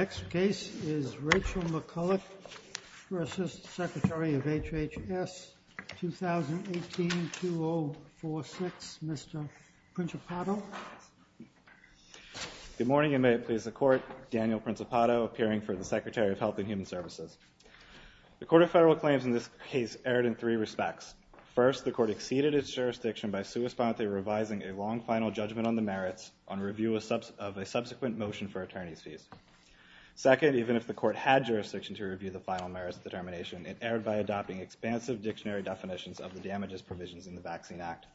2018-2046, Mr. Principato. Good morning and may it please the Court, Daniel Principato appearing for the Secretary of Health and Human Services. The Court of Federal Claims in this case erred in three respects. First, the Court exceeded its jurisdiction by sui sponte revising a long final judgment on the merits on review of a subsequent motion for final merits determination. It erred by adopting expansive dictionary definitions of the damages provisions in the Vaccine Act.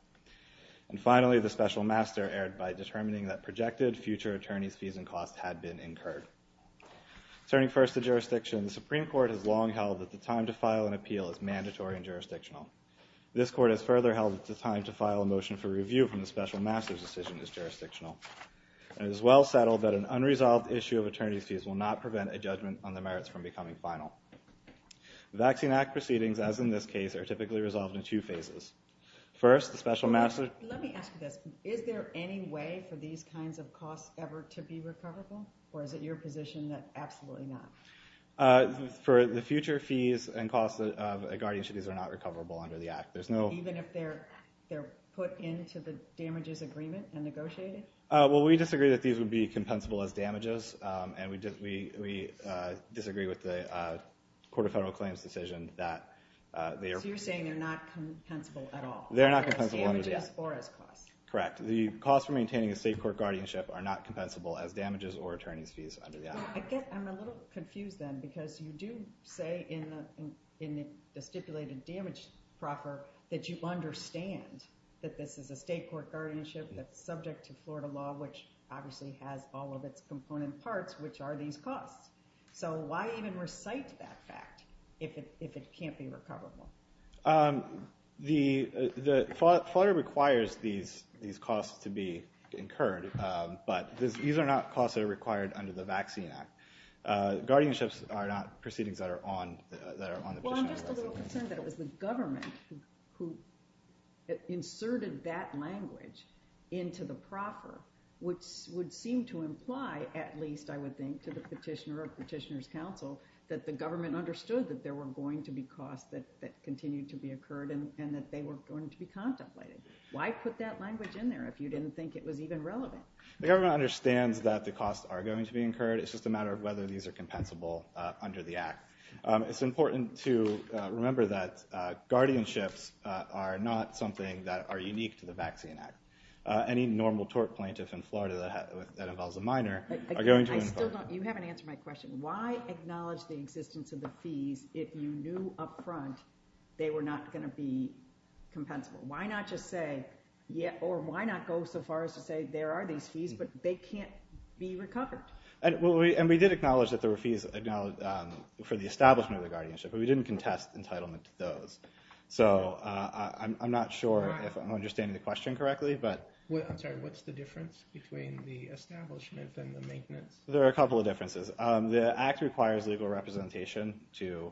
And finally, the Special Master erred by determining that projected future attorney's fees and costs had been incurred. Turning first to jurisdiction, the Supreme Court has long held that the time to file an appeal is mandatory and jurisdictional. This Court has further held that the time to file a motion for review from the Special Master's decision is jurisdictional. And it is well settled that an unresolved issue of becoming final. Vaccine Act proceedings, as in this case, are typically resolved in two phases. First, the Special Master... Let me ask you this. Is there any way for these kinds of costs ever to be recoverable? Or is it your position that absolutely not? For the future fees and costs of a guardianship, these are not recoverable under the Act. There's no... Even if they're put into the damages agreement and negotiated? Well, we disagree that these would be compensable as damages. And we disagree with the Court of Federal Claims' decision that they are... So you're saying they're not compensable at all? They're not compensable under the Act. As damages or as costs? Correct. The costs for maintaining a state court guardianship are not compensable as damages or attorney's fees under the Act. I'm a little confused then because you do say in the stipulated damage proffer that you understand that this is a state court guardianship that's subject to Florida law, which obviously has all of its component parts, which are these costs. So why even recite that fact if it can't be recoverable? Florida requires these costs to be incurred, but these are not costs that are required under the Vaccine Act. Guardianships are not proceedings that are on the position. I'm just a little concerned that it was the government who inserted that language into the proffer, which would seem to imply, at least I would think to the petitioner or petitioner's counsel, that the government understood that there were going to be costs that continued to be incurred and that they were going to be contemplated. Why put that language in there if you didn't think it was even relevant? The government understands that the costs are going to be incurred. It's just a matter of whether these are compensable under the Vaccine Act. It's important to remember that guardianships are not something that are unique to the Vaccine Act. Any normal tort plaintiff in Florida that involves a minor are going to incur. You haven't answered my question. Why acknowledge the existence of the fees if you knew up front they were not going to be compensable? Why not just say, or why not go so far as to say there are these fees, but they can't be recovered? And we did acknowledge that there were fees for the establishment of the guardianship, but we didn't contest entitlement to those. So I'm not sure if I'm understanding the question correctly, but... I'm sorry, what's the difference between the establishment and the maintenance? There are a couple of differences. The Act requires legal representation to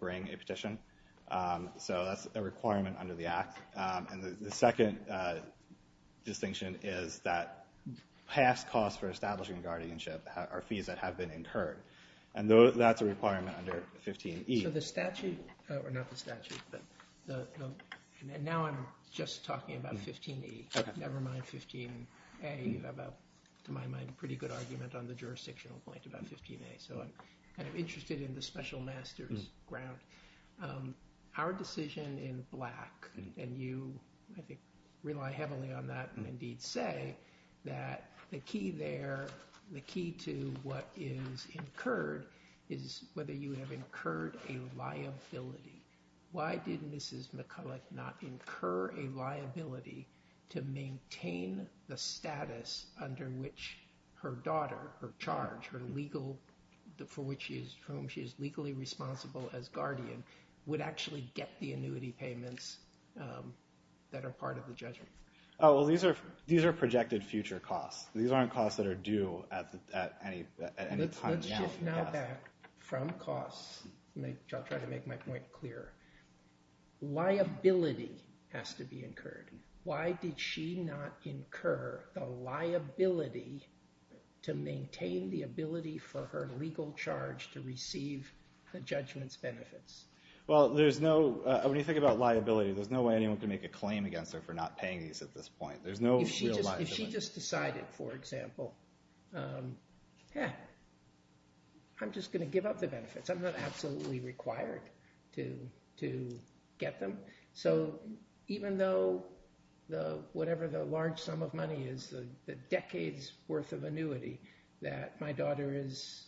bring a petition, so that's a requirement under the Act. And the second distinction is that past costs for establishing guardianship are fees that have been incurred. And that's a requirement under 15E. So the statute, or not the statute, and now I'm just talking about 15E, never mind 15A. You have a, to my mind, pretty good argument on the jurisdictional point about 15A. So I'm kind of interested in the special master's ground. Our decision in Black, and you I think rely heavily on that, and indeed say that the key there, the key to what is incurred is whether you have incurred a liability. Why did Mrs. McCulloch not incur a liability to maintain the status under which her daughter, her charge, her legal, for which she is, for whom she is legally responsible as guardian, would actually get the annuity payments that are part of the judgment? Oh, well, these are projected future costs. These aren't costs that are due at any time now. Let's shift now back from costs, which I'll try to make my point clearer. Liability has to be incurred. Why did she not incur the liability to maintain the ability for her legal charge to receive the judgment's benefits? Well, there's no, when you think about liability, there's no way anyone can make a claim against her for not paying these at this point. There's no real liability. If she just decided, for example, yeah, I'm just going to give up the benefits. I'm not absolutely required to get them. So even though whatever the large sum of money is, the decades worth of annuity that my daughter is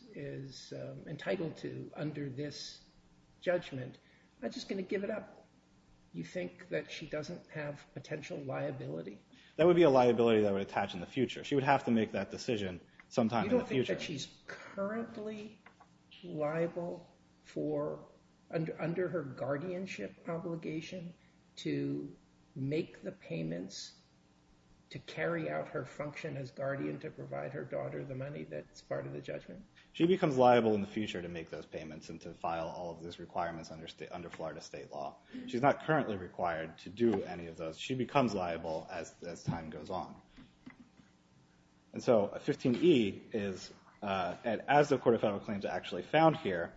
entitled to under this judgment, I'm just going to give it up. You think that she doesn't have potential liability? That would be a liability that would attach in the future. She would have to make that decision sometime in the future. You don't think that she's currently liable for, under her guardianship obligation, to make the payments to carry out her function as guardian to provide her daughter the money that's part of the judgment? She becomes liable in the future to make those payments and to file all of those requirements under Florida state law. She's not currently required to do any of those. She becomes liable as time goes on. And so 15E is, as the Court of Federal Claims actually found here,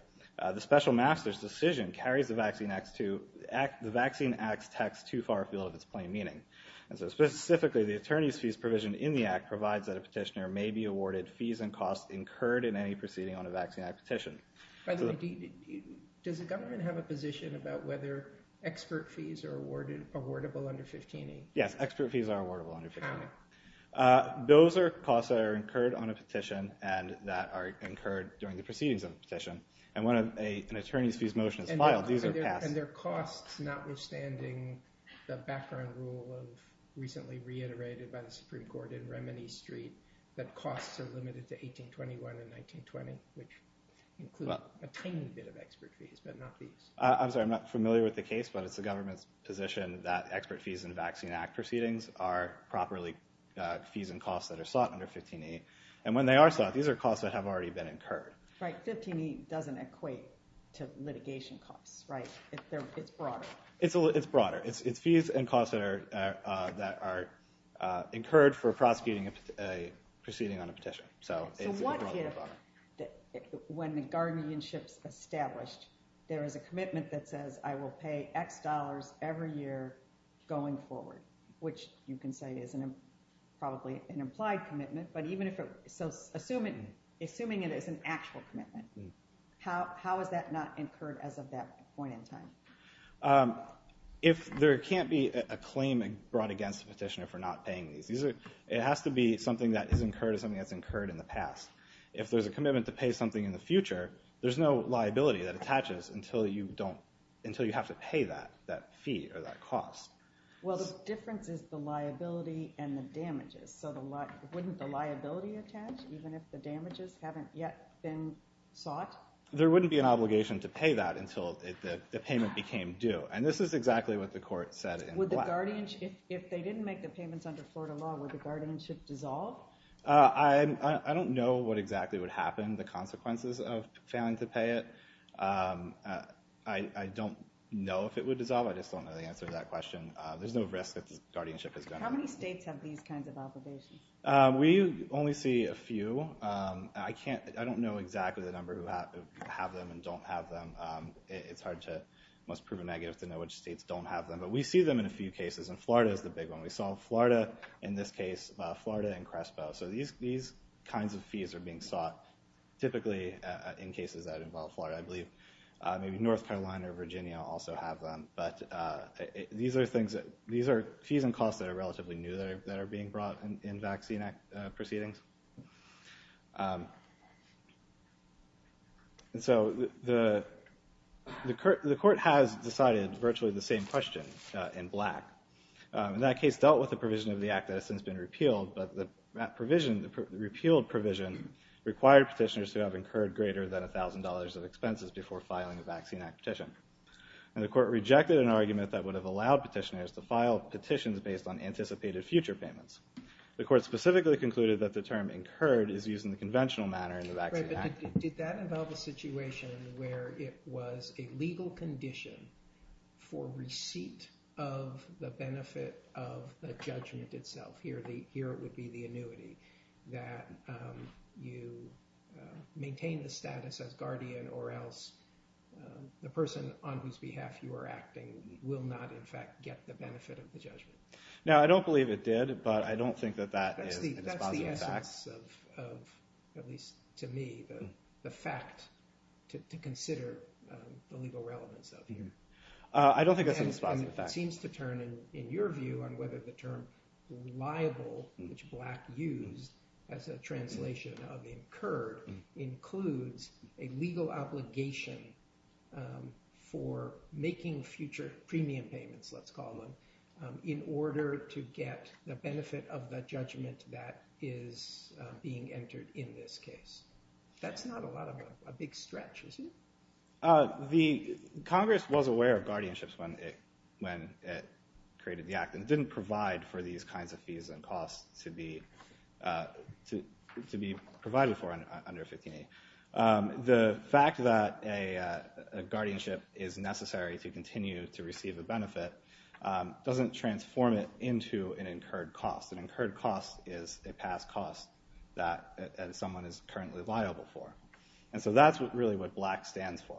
the special master's decision carries the Vaccine Act's text too far afield of its plain meaning. And so specifically, the attorney's fees provision in the Act provides that a petitioner may be awarded fees and costs incurred in any proceeding on a Vaccine Act petition. By the way, does the government have a position about whether expert fees are awardable under 15E? Yes, expert fees are awardable under 15E. Those are costs that are incurred on a petition and that are incurred during the proceedings of a petition. And when an attorney's fees motion is filed, these are passed. And they're costs, notwithstanding the background rule recently reiterated by the Supreme Court in Remini Street, that costs are limited to 1821 and 1920, which include a tiny bit of expert fees, but not fees. I'm sorry, I'm not familiar with the case, but it's the government's position that expert fees in Vaccine Act proceedings are properly fees and costs that are sought under 15E. And when they are sought, these are costs that have already been incurred. Right, 15E doesn't equate to litigation costs, right? It's broader. It's broader. It's fees and costs that are incurred for prosecuting a proceeding on a petition. So what if, when the guardianship's established, there is a commitment that says, I will pay X dollars every year going forward, which you can say is probably an implied commitment. So assuming it is an actual commitment, how is that not incurred as of that point in time? If there can't be a claim brought against the petitioner for not paying these, it has to be something that is incurred or something that's incurred in the past. If there's a commitment to pay something in the future, there's no liability that attaches until you don't, until you have to pay that, that fee or that cost. Well, the difference is the liability and the damages. So wouldn't the liability attach even if the damages haven't yet been sought? There wouldn't be an obligation to pay that until the payment became due. And this is exactly what the court said in black. Would the guardianship, if they didn't make the payments under Florida law, would the guardianship dissolve? I don't know what exactly would happen, the consequences of failing to pay it. I don't know if it would dissolve. I just don't know the answer to that question. There's no risk that the guardianship is gone. How many states have these kinds of obligations? We only see a few. I can't, I don't know exactly the number who have them and don't have them. It's hard to, it must prove a negative to know which states don't have them. But we see them in a few cases, and Florida is the big one. We saw Florida in this case, Florida and Crespo. Maybe North Carolina or Virginia also have them. But these are fees and costs that are relatively new that are being brought in vaccine proceedings. And so the court has decided virtually the same question in black. And that case dealt with the provision of the act that has since been repealed. But that provision, the repealed provision, required petitioners to have incurred greater than $1,000 of expenses before filing a Vaccine Act petition. And the court rejected an argument that would have allowed petitioners to file petitions based on anticipated future payments. The court specifically concluded that the term incurred is used in the conventional manner in the Vaccine Act. Did that involve a situation where it was a legal condition for receipt of the benefit of the judgment itself? Here it would be the annuity that you maintain the status as guardian or else the person on whose behalf you are acting will not, in fact, get the benefit of the judgment. Now, I don't believe it did, but I don't think that that is a dispositive fact. That's the essence of, at least to me, the fact to consider the legal relevance of here. I don't think it's a dispositive fact. And it seems to turn, in your view, on whether the term liable, which Black used as a translation of incurred, includes a legal obligation for making future premium payments, let's call them, in order to get the benefit of the judgment that is being entered in this case. That's not a lot of a big stretch, is it? The Congress was aware of guardianships when it created the Act, and it didn't provide for these kinds of fees and costs to be provided for under 15A. The fact that a guardianship is necessary to continue to receive a benefit doesn't transform it into an incurred cost. An incurred cost is a past cost that someone is currently liable for. And so that's really what Black stands for.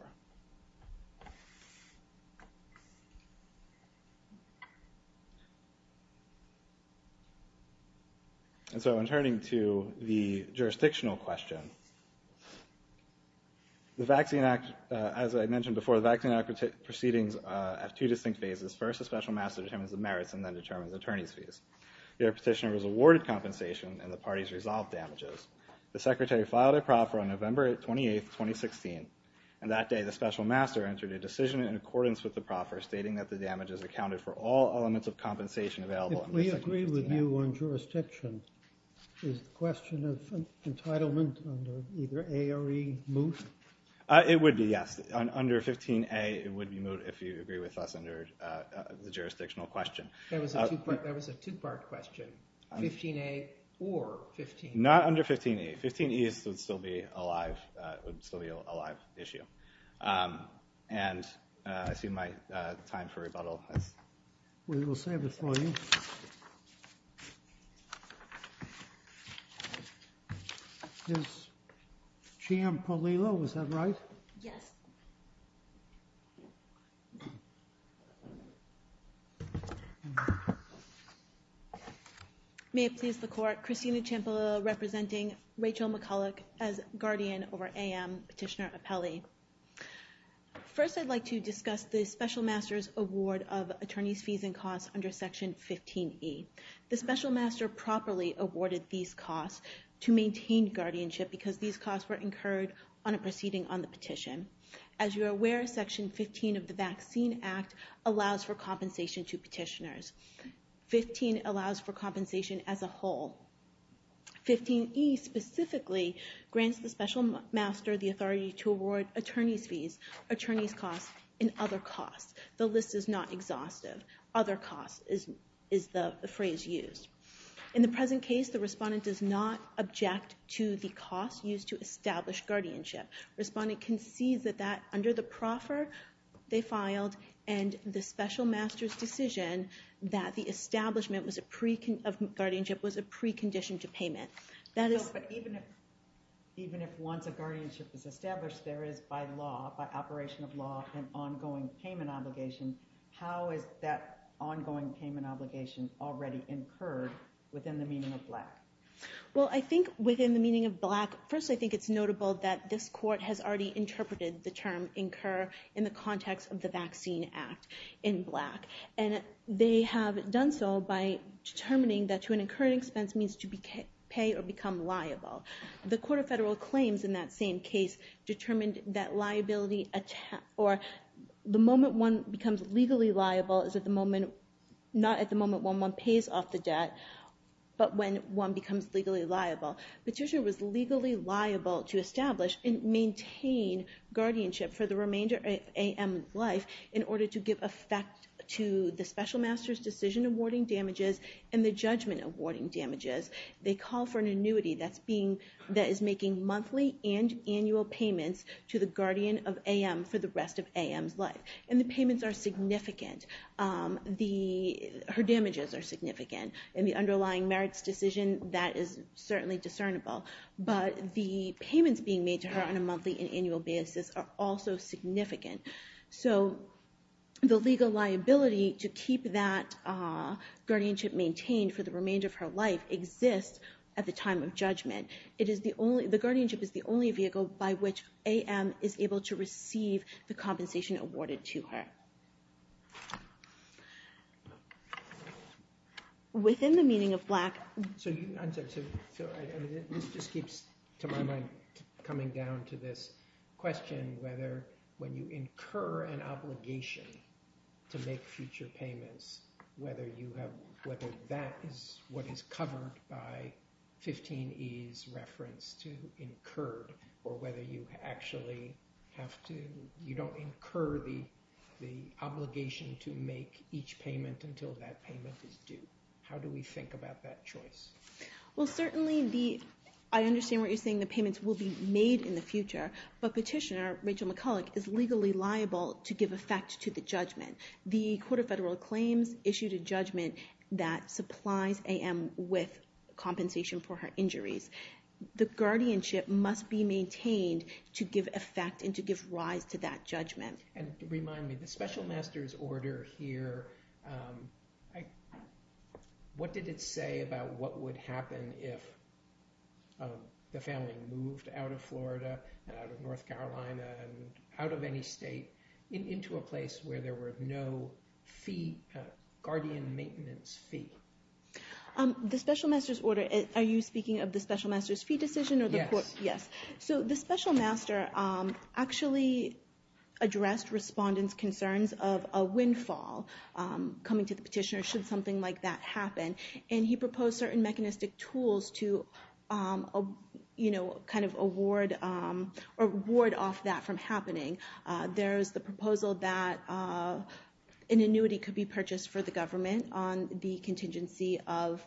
And so in turning to the jurisdictional question, the Vaccine Act, as I mentioned before, the Vaccine Act proceedings have two distinct phases. First, a special master determines the merits and then determines attorney's fees. Your petitioner was awarded compensation, and the parties resolved damages. The Secretary filed a proffer on November 28th, 2016. And that day, the special master entered a decision in accordance with the proffer, stating that the damages accounted for all elements of compensation available. If we agree with you on jurisdiction, is the question of entitlement under either A or E moot? It would be, yes. Under 15A, it would be moot if you agree with us under the jurisdictional question. That was a two-part question, 15A or 15A. Not under 15A. 15A would still be a live issue. And I see my time for rebuttal has come up. We will save it for you. Is Chiam-Polillo, was that right? Yes. May it please the court. Christina Chiam-Polillo representing Rachel McCulloch as guardian over AM, petitioner appellee. First, I'd like to discuss the special master's award of attorney's fees and costs under Section 15E. The special master properly awarded these costs to maintain guardianship because these costs were incurred on a proceeding on the petition. As you are aware, Section 15 of the Vaccine Act allows for compensation to petitioners. 15 allows for compensation as a whole. 15E specifically grants the special master the authority to award attorney's fees, attorney's costs, and other costs. The list is not exhaustive. Other costs is the phrase used. In the present case, the respondent does not object to the costs used to establish guardianship. Respondent concedes that under the proffer they filed and the special master's decision that the establishment of guardianship was a precondition to payment. Even if once a guardianship is established, there is by law, by operation of law, an ongoing payment obligation. How is that ongoing payment obligation already incurred within the meaning of black? Well, I think within the meaning of black, first I think it's notable that this court has already interpreted the term incur in the context of the Vaccine Act in black. And they have done so by determining that to an incurred expense means to pay or become liable. The Court of Federal Claims in that same case determined that liability or the moment one becomes legally liable is at the moment, not at the moment when one pays off the debt, but when one becomes legally liable. Guardianship for the remainder of AM's life in order to give effect to the special master's decision awarding damages and the judgment awarding damages, they call for an annuity that is making monthly and annual payments to the guardian of AM for the rest of AM's life. And the payments are significant. Her damages are significant. And the underlying merits decision, that is certainly discernible. But the payments being made to her on a monthly and annual basis are also significant. So the legal liability to keep that guardianship maintained for the remainder of her life exists at the time of judgment. It is the only, the guardianship is the only vehicle by which AM is able to receive the compensation awarded to her. So within the meaning of black, so this just keeps to my mind coming down to this question, whether when you incur an obligation to make future payments, whether you have, whether that is what is covered by 15 E's reference to incurred or whether you actually have to, you don't incur the obligation to make each payment until that payment is due. How do we think about that choice? Well, certainly the, I understand what you're saying. The payments will be made in the future. But petitioner Rachel McCulloch is legally liable to give effect to the judgment. The Court of Federal Claims issued a judgment that supplies AM with compensation for her injuries. The guardianship must be maintained to give effect and to give rise to that judgment. And remind me, the special master's order here, what did it say about what would happen if the family moved out of Florida and out of North Carolina and out of any state into a place where there were no fee, guardian maintenance fee? The special master's order, are you speaking of the special master's fee decision? Yes. Yes. So the special master actually addressed respondents' concerns of a windfall coming to the petitioner should something like that happen. And he proposed certain mechanistic tools to, you know, kind of award off that from happening. There's the proposal that an annuity could be purchased for the government on the contingency of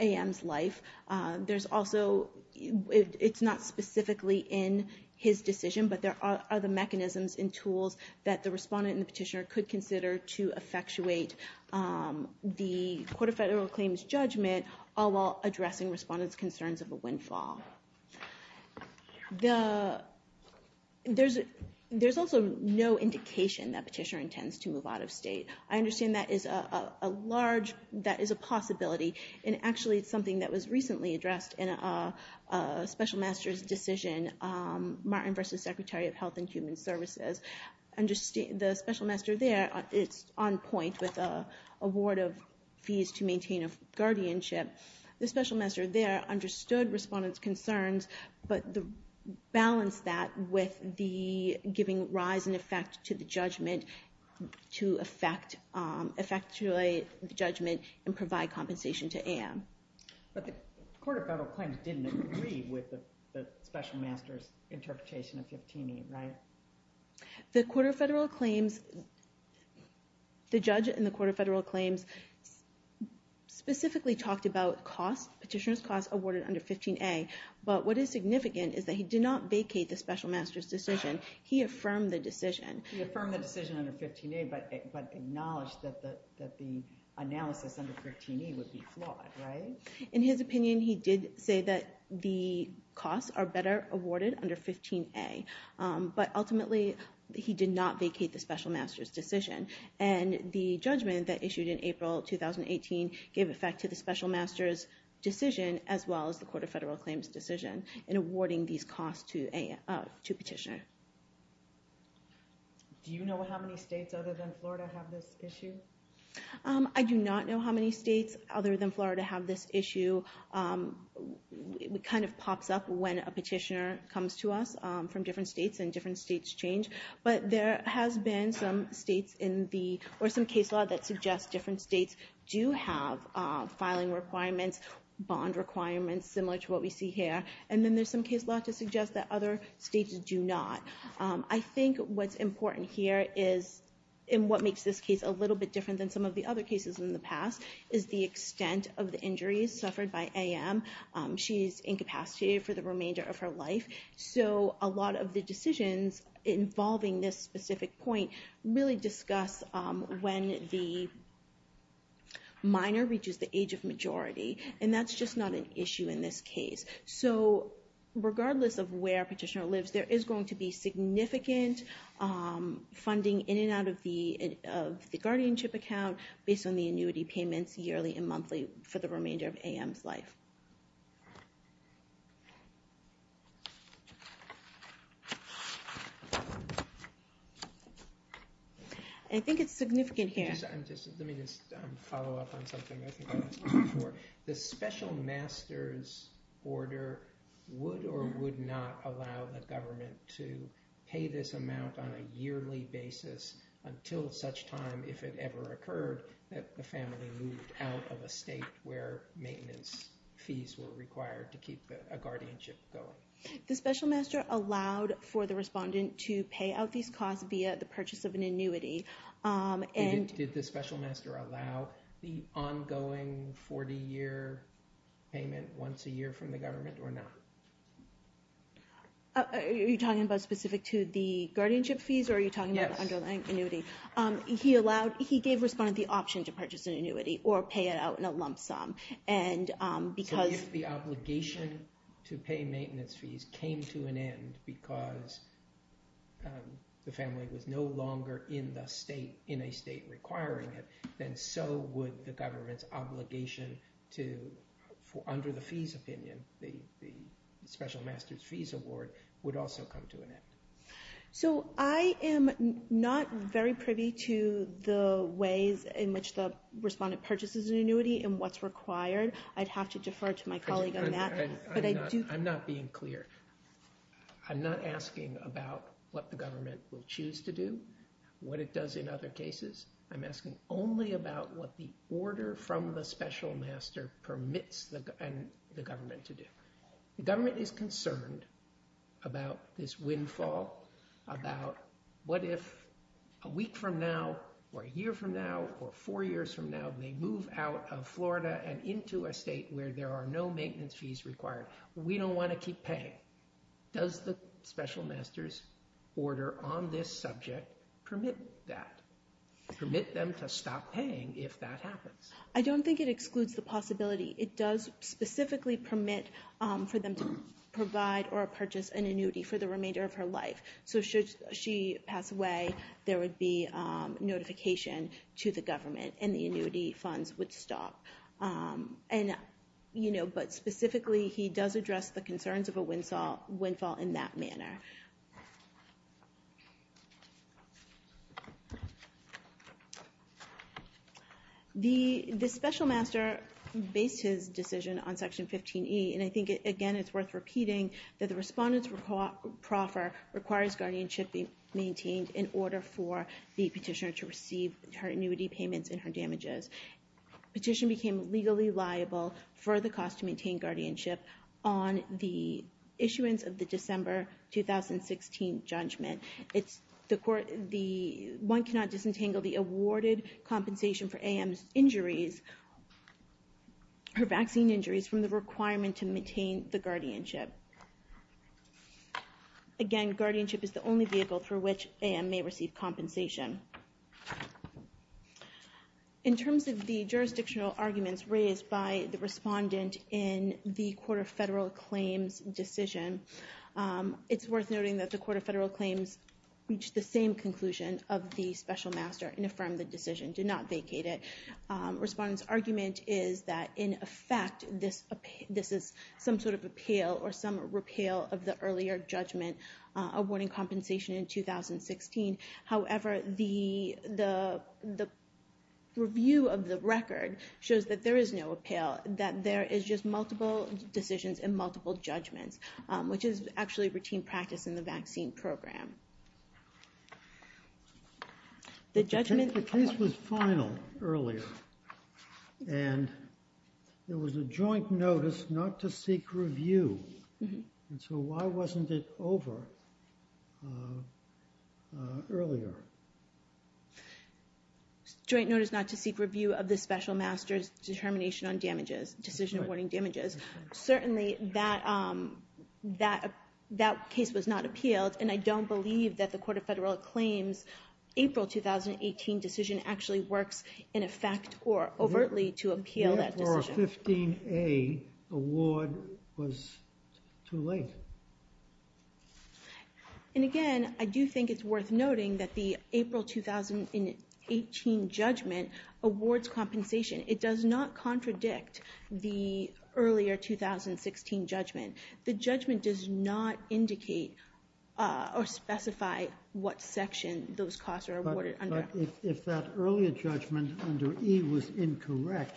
AM's life. There's also, it's not specifically in his decision, but there are other mechanisms and tools that the respondent and the petitioner could consider to effectuate the Court of Federal Claims judgment, all while addressing respondents' concerns of a windfall. There's also no indication that petitioner intends to move out of state. I understand that is a large, that is a possibility. And actually, it's something that was recently addressed in a special master's decision, Martin v. Secretary of Health and Human Services. The special master there, it's on point with an award of fees to maintain a guardianship. The special master there understood respondents' concerns, but balanced that with the giving rise in effect to the judgment to effectuate the judgment and provide compensation to AM. But the Court of Federal Claims didn't agree with the special master's interpretation of 15A, right? The Court of Federal Claims, the judge in the Court of Federal Claims specifically talked about cost, petitioner's cost awarded under 15A. But what is significant is that he did not vacate the special master's decision. He affirmed the decision. He affirmed the decision under 15A, but acknowledged that the analysis under 15A would be flawed, right? In his opinion, he did say that the costs are better awarded under 15A. But ultimately, he did not vacate the special master's decision. And the judgment that issued in April 2018 gave effect to the special master's decision, as well as the Court of Federal Claims decision in awarding these costs to petitioner. Do you know how many states other than Florida have this issue? I do not know how many states other than Florida have this issue. It kind of pops up when a petitioner comes to us from different states and different states change. But there has been some states in the, or some case law that suggests different states do have filing requirements, bond requirements, similar to what we see here. And then there's some case law to suggest that other states do not. I think what's important here is, and what makes this case a little bit different than some of the other cases in the past, is the extent of the injuries suffered by A.M. She's incapacitated for the remainder of her life. So a lot of the decisions involving this specific point really discuss when the minor reaches the age of majority. And that's just not an issue in this case. So regardless of where a petitioner lives, there is going to be significant funding in and out of the guardianship account based on the annuity payments yearly and monthly for the remainder of A.M.'s life. I think it's significant here. Let me just follow up on something I think I asked before. The special master's order would or would not allow the government to pay this amount on a yearly basis until such time, if it ever occurred, that the family moved out of a state where maintenance fees were required to keep a guardianship going. The special master allowed for the respondent to pay out these costs via the purchase of an annuity. And did the special master allow the ongoing 40-year payment once a year from the government or not? Are you talking about specific to the guardianship fees? Or are you talking about the underlying annuity? He gave respondent the option to purchase an annuity or pay it out in a lump sum. So if the obligation to pay maintenance fees came to an end because the family was no longer in the state, in a state requiring it, then so would the government's obligation to, under the fees opinion, the special master's fees award would also come to an end. So I am not very privy to the ways in which the respondent purchases an annuity and what's required. I'd have to defer to my colleague on that. I'm not being clear. I'm not asking about what the government will choose to do, what it does in other cases. I'm asking only about what the order from the special master permits the government to do. The government is concerned about this windfall, about what if a week from now or a year from now or four years from now they move out of Florida and into a state where there are no maintenance fees required. We don't want to keep paying. Does the special master's order on this subject permit that? Permit them to stop paying if that happens? I don't think it excludes the possibility. It does specifically permit for them to provide or purchase an annuity for the remainder of her life. So should she pass away, there would be notification to the government and the annuity funds would stop. And, you know, but specifically he does address the concerns of a windfall in that manner. The special master based his decision on section 15E and I think, again, it's worth repeating that the respondent's proffer requires guardianship be maintained in order for the petitioner to receive her annuity payments and her damages. Petition became legally liable for the cost to maintain guardianship on the issuance of the December 2016 judgment. It's the court, the one cannot disentangle the awarded compensation for A.M.'s injuries, her vaccine injuries from the requirement to maintain the guardianship. Again, guardianship is the only vehicle for which A.M. may receive compensation. In terms of the jurisdictional arguments raised by the respondent in the Court of Federal Claims' decision, it's worth noting that the Court of Federal Claims reached the same conclusion of the special master and affirmed the decision, did not vacate it. Respondent's argument is that, in effect, this is some sort of appeal or some repeal of the earlier judgment awarding compensation in 2016. However, the review of the record shows that there is no appeal, that there is just multiple decisions and multiple judgments, which is actually routine practice in the vaccine program. The case was final earlier, and there was a joint notice not to seek review. And so why wasn't it over? Earlier. Joint notice not to seek review of the special master's determination on damages, decision awarding damages. Certainly, that case was not appealed, and I don't believe that the Court of Federal Claims' April 2018 decision actually works in effect or overtly to appeal that decision. Or a 15A award was too late. And, again, I do think it's worth noting that the April 2018 judgment awards compensation. It does not contradict the earlier 2016 judgment. The judgment does not indicate or specify what section those costs are awarded. If that earlier judgment under E was incorrect,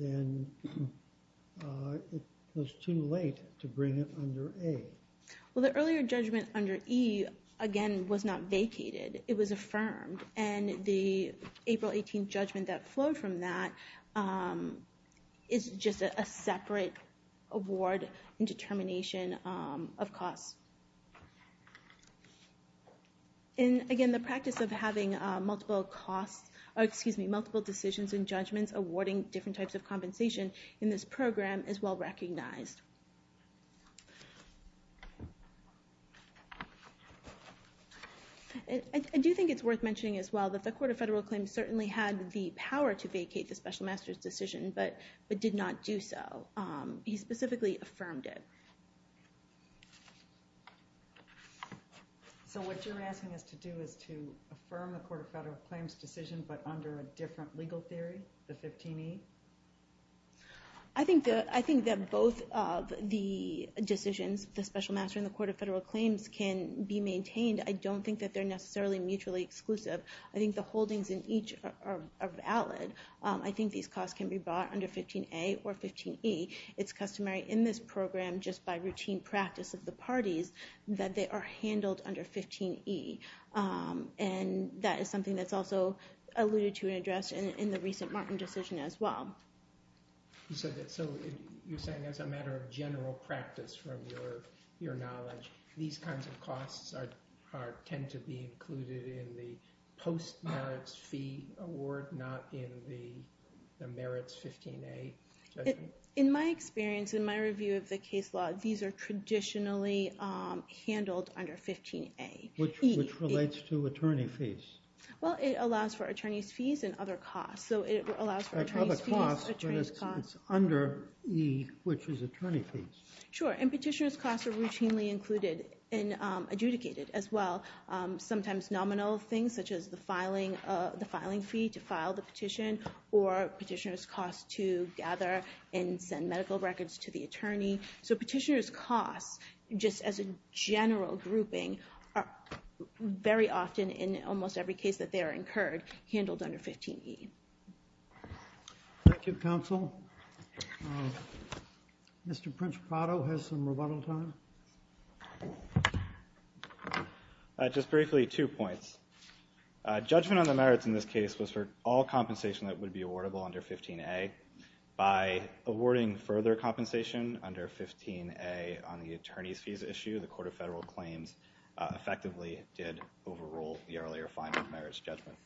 then it was too late to bring it under A. Well, the earlier judgment under E, again, was not vacated. It was affirmed. And the April 2018 judgment that flowed from that is just a separate award and determination of costs. And, again, the practice of having multiple decisions and judgments awarding different types of compensation in this program is well-recognized. I do think it's worth mentioning, as well, that the Court of Federal Claims certainly had the power to vacate the special master's decision, but did not do so. He specifically affirmed it. So what you're asking us to do is to affirm the Court of Federal Claims decision, but under a different legal theory, the 15E? I think that both of the decisions, the special master and the Court of Federal Claims, can be maintained. I don't think that they're necessarily mutually exclusive. I think the holdings in each are valid. I think these costs can be bought under 15A or 15E. It's customary in this program, just by routine practice of the parties, that they are handled under 15E. And that is something that's also alluded to and addressed in the recent Martin decision, as well. So you're saying as a matter of general practice from your knowledge, these kinds of costs tend to be included in the post-merits fee award, not in the merits 15A judgment? In my experience, in my review of the case law, these are traditionally handled under 15A. Which relates to attorney fees. Well, it allows for attorney's fees and other costs. So it allows for attorney's fees, attorney's costs. It's under E, which is attorney fees. Sure. And petitioner's costs are routinely included and adjudicated, as well. Sometimes nominal things, such as the filing fee to file the petition, or petitioner's costs to gather and send medical records to the attorney. So petitioner's costs, just as a general grouping, are very often, in almost every case that they are incurred, handled under 15E. Thank you, counsel. Mr. Principato has some rebuttal time. Just briefly, two points. Judgment on the merits in this case was for all compensation that would be awardable under 15A. By awarding further compensation under 15A on the attorney's fees issue, the Court of Federal Claims effectively did overrule the earlier finding of merits judgment.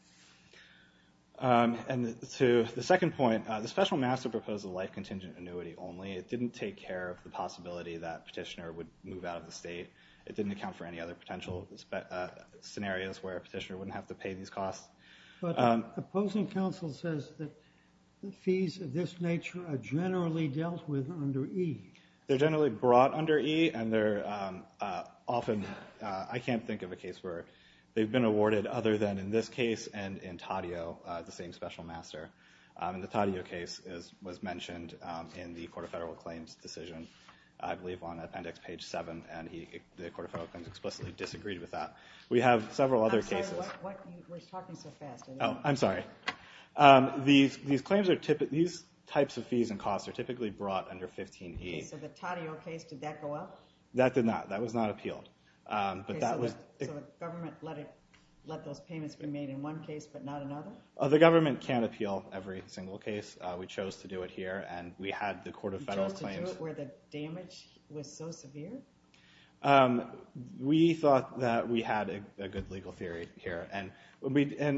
And to the second point, the special master proposed a life-contingent annuity only. It didn't take care of the possibility that petitioner would move out of the state. It didn't account for any other potential scenarios where a petitioner wouldn't have to pay these costs. But the opposing counsel says that the fees of this nature are generally dealt with under E. They're generally brought under E, and they're often... I can't think of a case where they've been awarded, other than in this case and in Taddeo, the same special master. In the Taddeo case, as was mentioned in the Court of Federal Claims decision, I believe on appendix page 7, and the Court of Federal Claims explicitly disagreed with that. We have several other cases. We're talking so fast. Oh, I'm sorry. These claims are typically... These types of fees and costs are typically brought under 15E. So the Taddeo case, did that go up? That did not. That was not appealed. But that was... So the government let those payments be made in one case, but not another? The government can't appeal every single case. We chose to do it here, and we had the Court of Federal Claims... You chose to do it where the damage was so severe? Um, we thought that we had a good legal theory here. And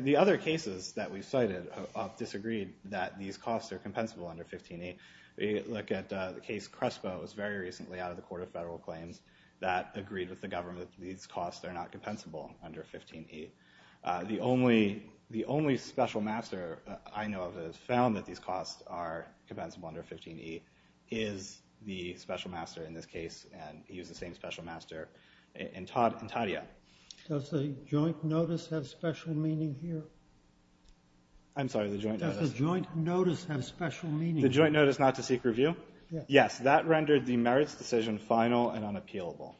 the other cases that we've cited have disagreed that these costs are compensable under 15E. We look at the case Crespo. It was very recently out of the Court of Federal Claims that agreed with the government that these costs are not compensable under 15E. The only special master I know of that has found that these costs are compensable under 15E is the special master in this case, and he was the same special master in Taddeo. Does the joint notice have special meaning here? I'm sorry, the joint notice... Does the joint notice have special meaning? The joint notice not to seek review? Yes, that rendered the merits decision final and unappealable.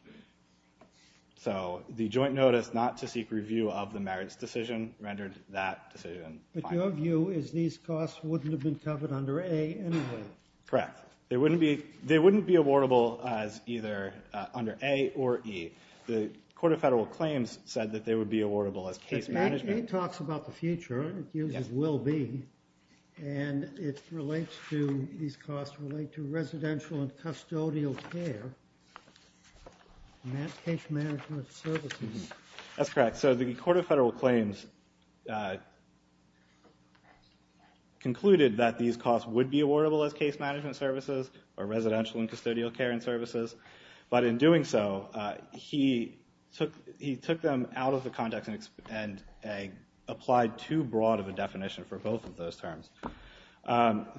So the joint notice not to seek review of the merits decision rendered that decision final. But your view is these costs wouldn't have been covered under A anyway? Correct. They wouldn't be awardable as either under A or E. The Court of Federal Claims said that they would be awardable as case management. It talks about the future, it uses will be, and these costs relate to residential and custodial care, case management services. That's correct. So the Court of Federal Claims concluded that these costs would be awardable as case management services or residential and custodial care and services. But in doing so, he took them out of the context and applied too broad of a definition for both of those terms.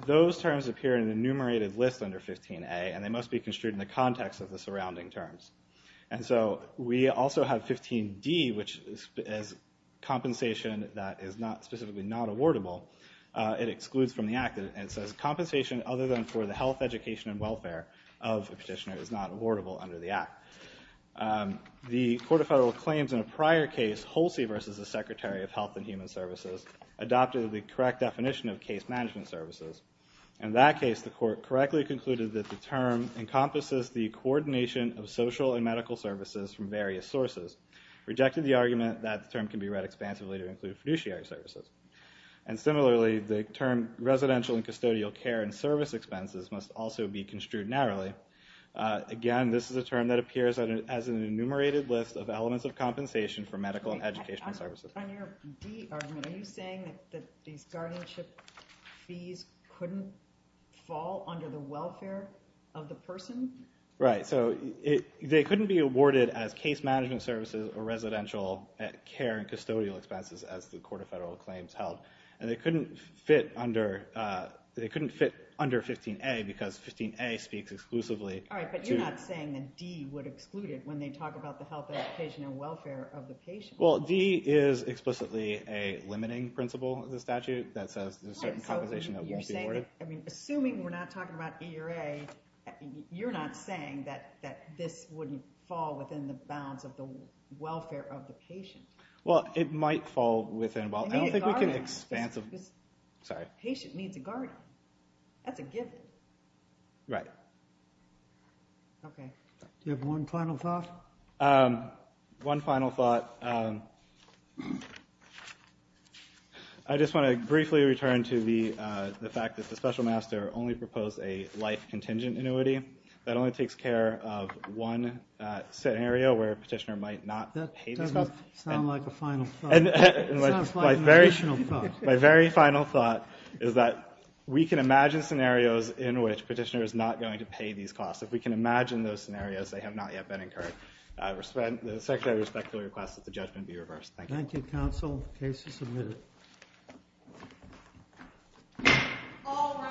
Those terms appear in the enumerated list under 15A and they must be construed in the context of the surrounding terms. And so we also have 15D, which is compensation that is specifically not awardable. It excludes from the act. It says compensation other than for the health, education, and welfare of a petitioner is not awardable under the act. The Court of Federal Claims in a prior case, Holsey versus the Secretary of Health and Human Services, adopted the correct definition of case management services. In that case, the court correctly concluded that the term encompasses the coordination of social and medical services from various sources, rejected the argument that the term can be read expansively to include fiduciary services. And similarly, the term residential and custodial care and service expenses must also be construed narrowly. Again, this is a term that appears as an enumerated list of elements of compensation for medical and educational services. On your D argument, are you saying that these guardianship fees couldn't fall under the welfare of the person? Right. So they couldn't be awarded as case management services or residential care and custodial expenses as the Court of Federal Claims held. And they couldn't fit under 15A because 15A speaks exclusively. All right, but you're not saying that D would exclude it when they talk about the health, education, and welfare of the patient. Well, D is explicitly a limiting principle of the statute that says there's a certain compensation that won't be awarded. I mean, assuming we're not talking about E or A, you're not saying that this wouldn't fall within the bounds of the welfare of the patient. Well, it might fall within the bounds. I don't think we can expanse of this. I mean, a guardian. Sorry. Patient needs a guardian. That's a given. Right. OK. Do you have one final thought? One final thought. I just want to briefly return to the fact that the special master only proposed a life contingent annuity. That only takes care of one scenario where a petitioner might not pay these costs. That doesn't sound like a final thought. It sounds like an additional thought. My very final thought is that we can imagine scenarios in which a petitioner is not going to pay these costs. If we can imagine those scenarios, they have not yet been incurred. The secretary respectfully requests that the judgment be reversed. Thank you. Thank you, counsel. The case is submitted. Thank you. All rise.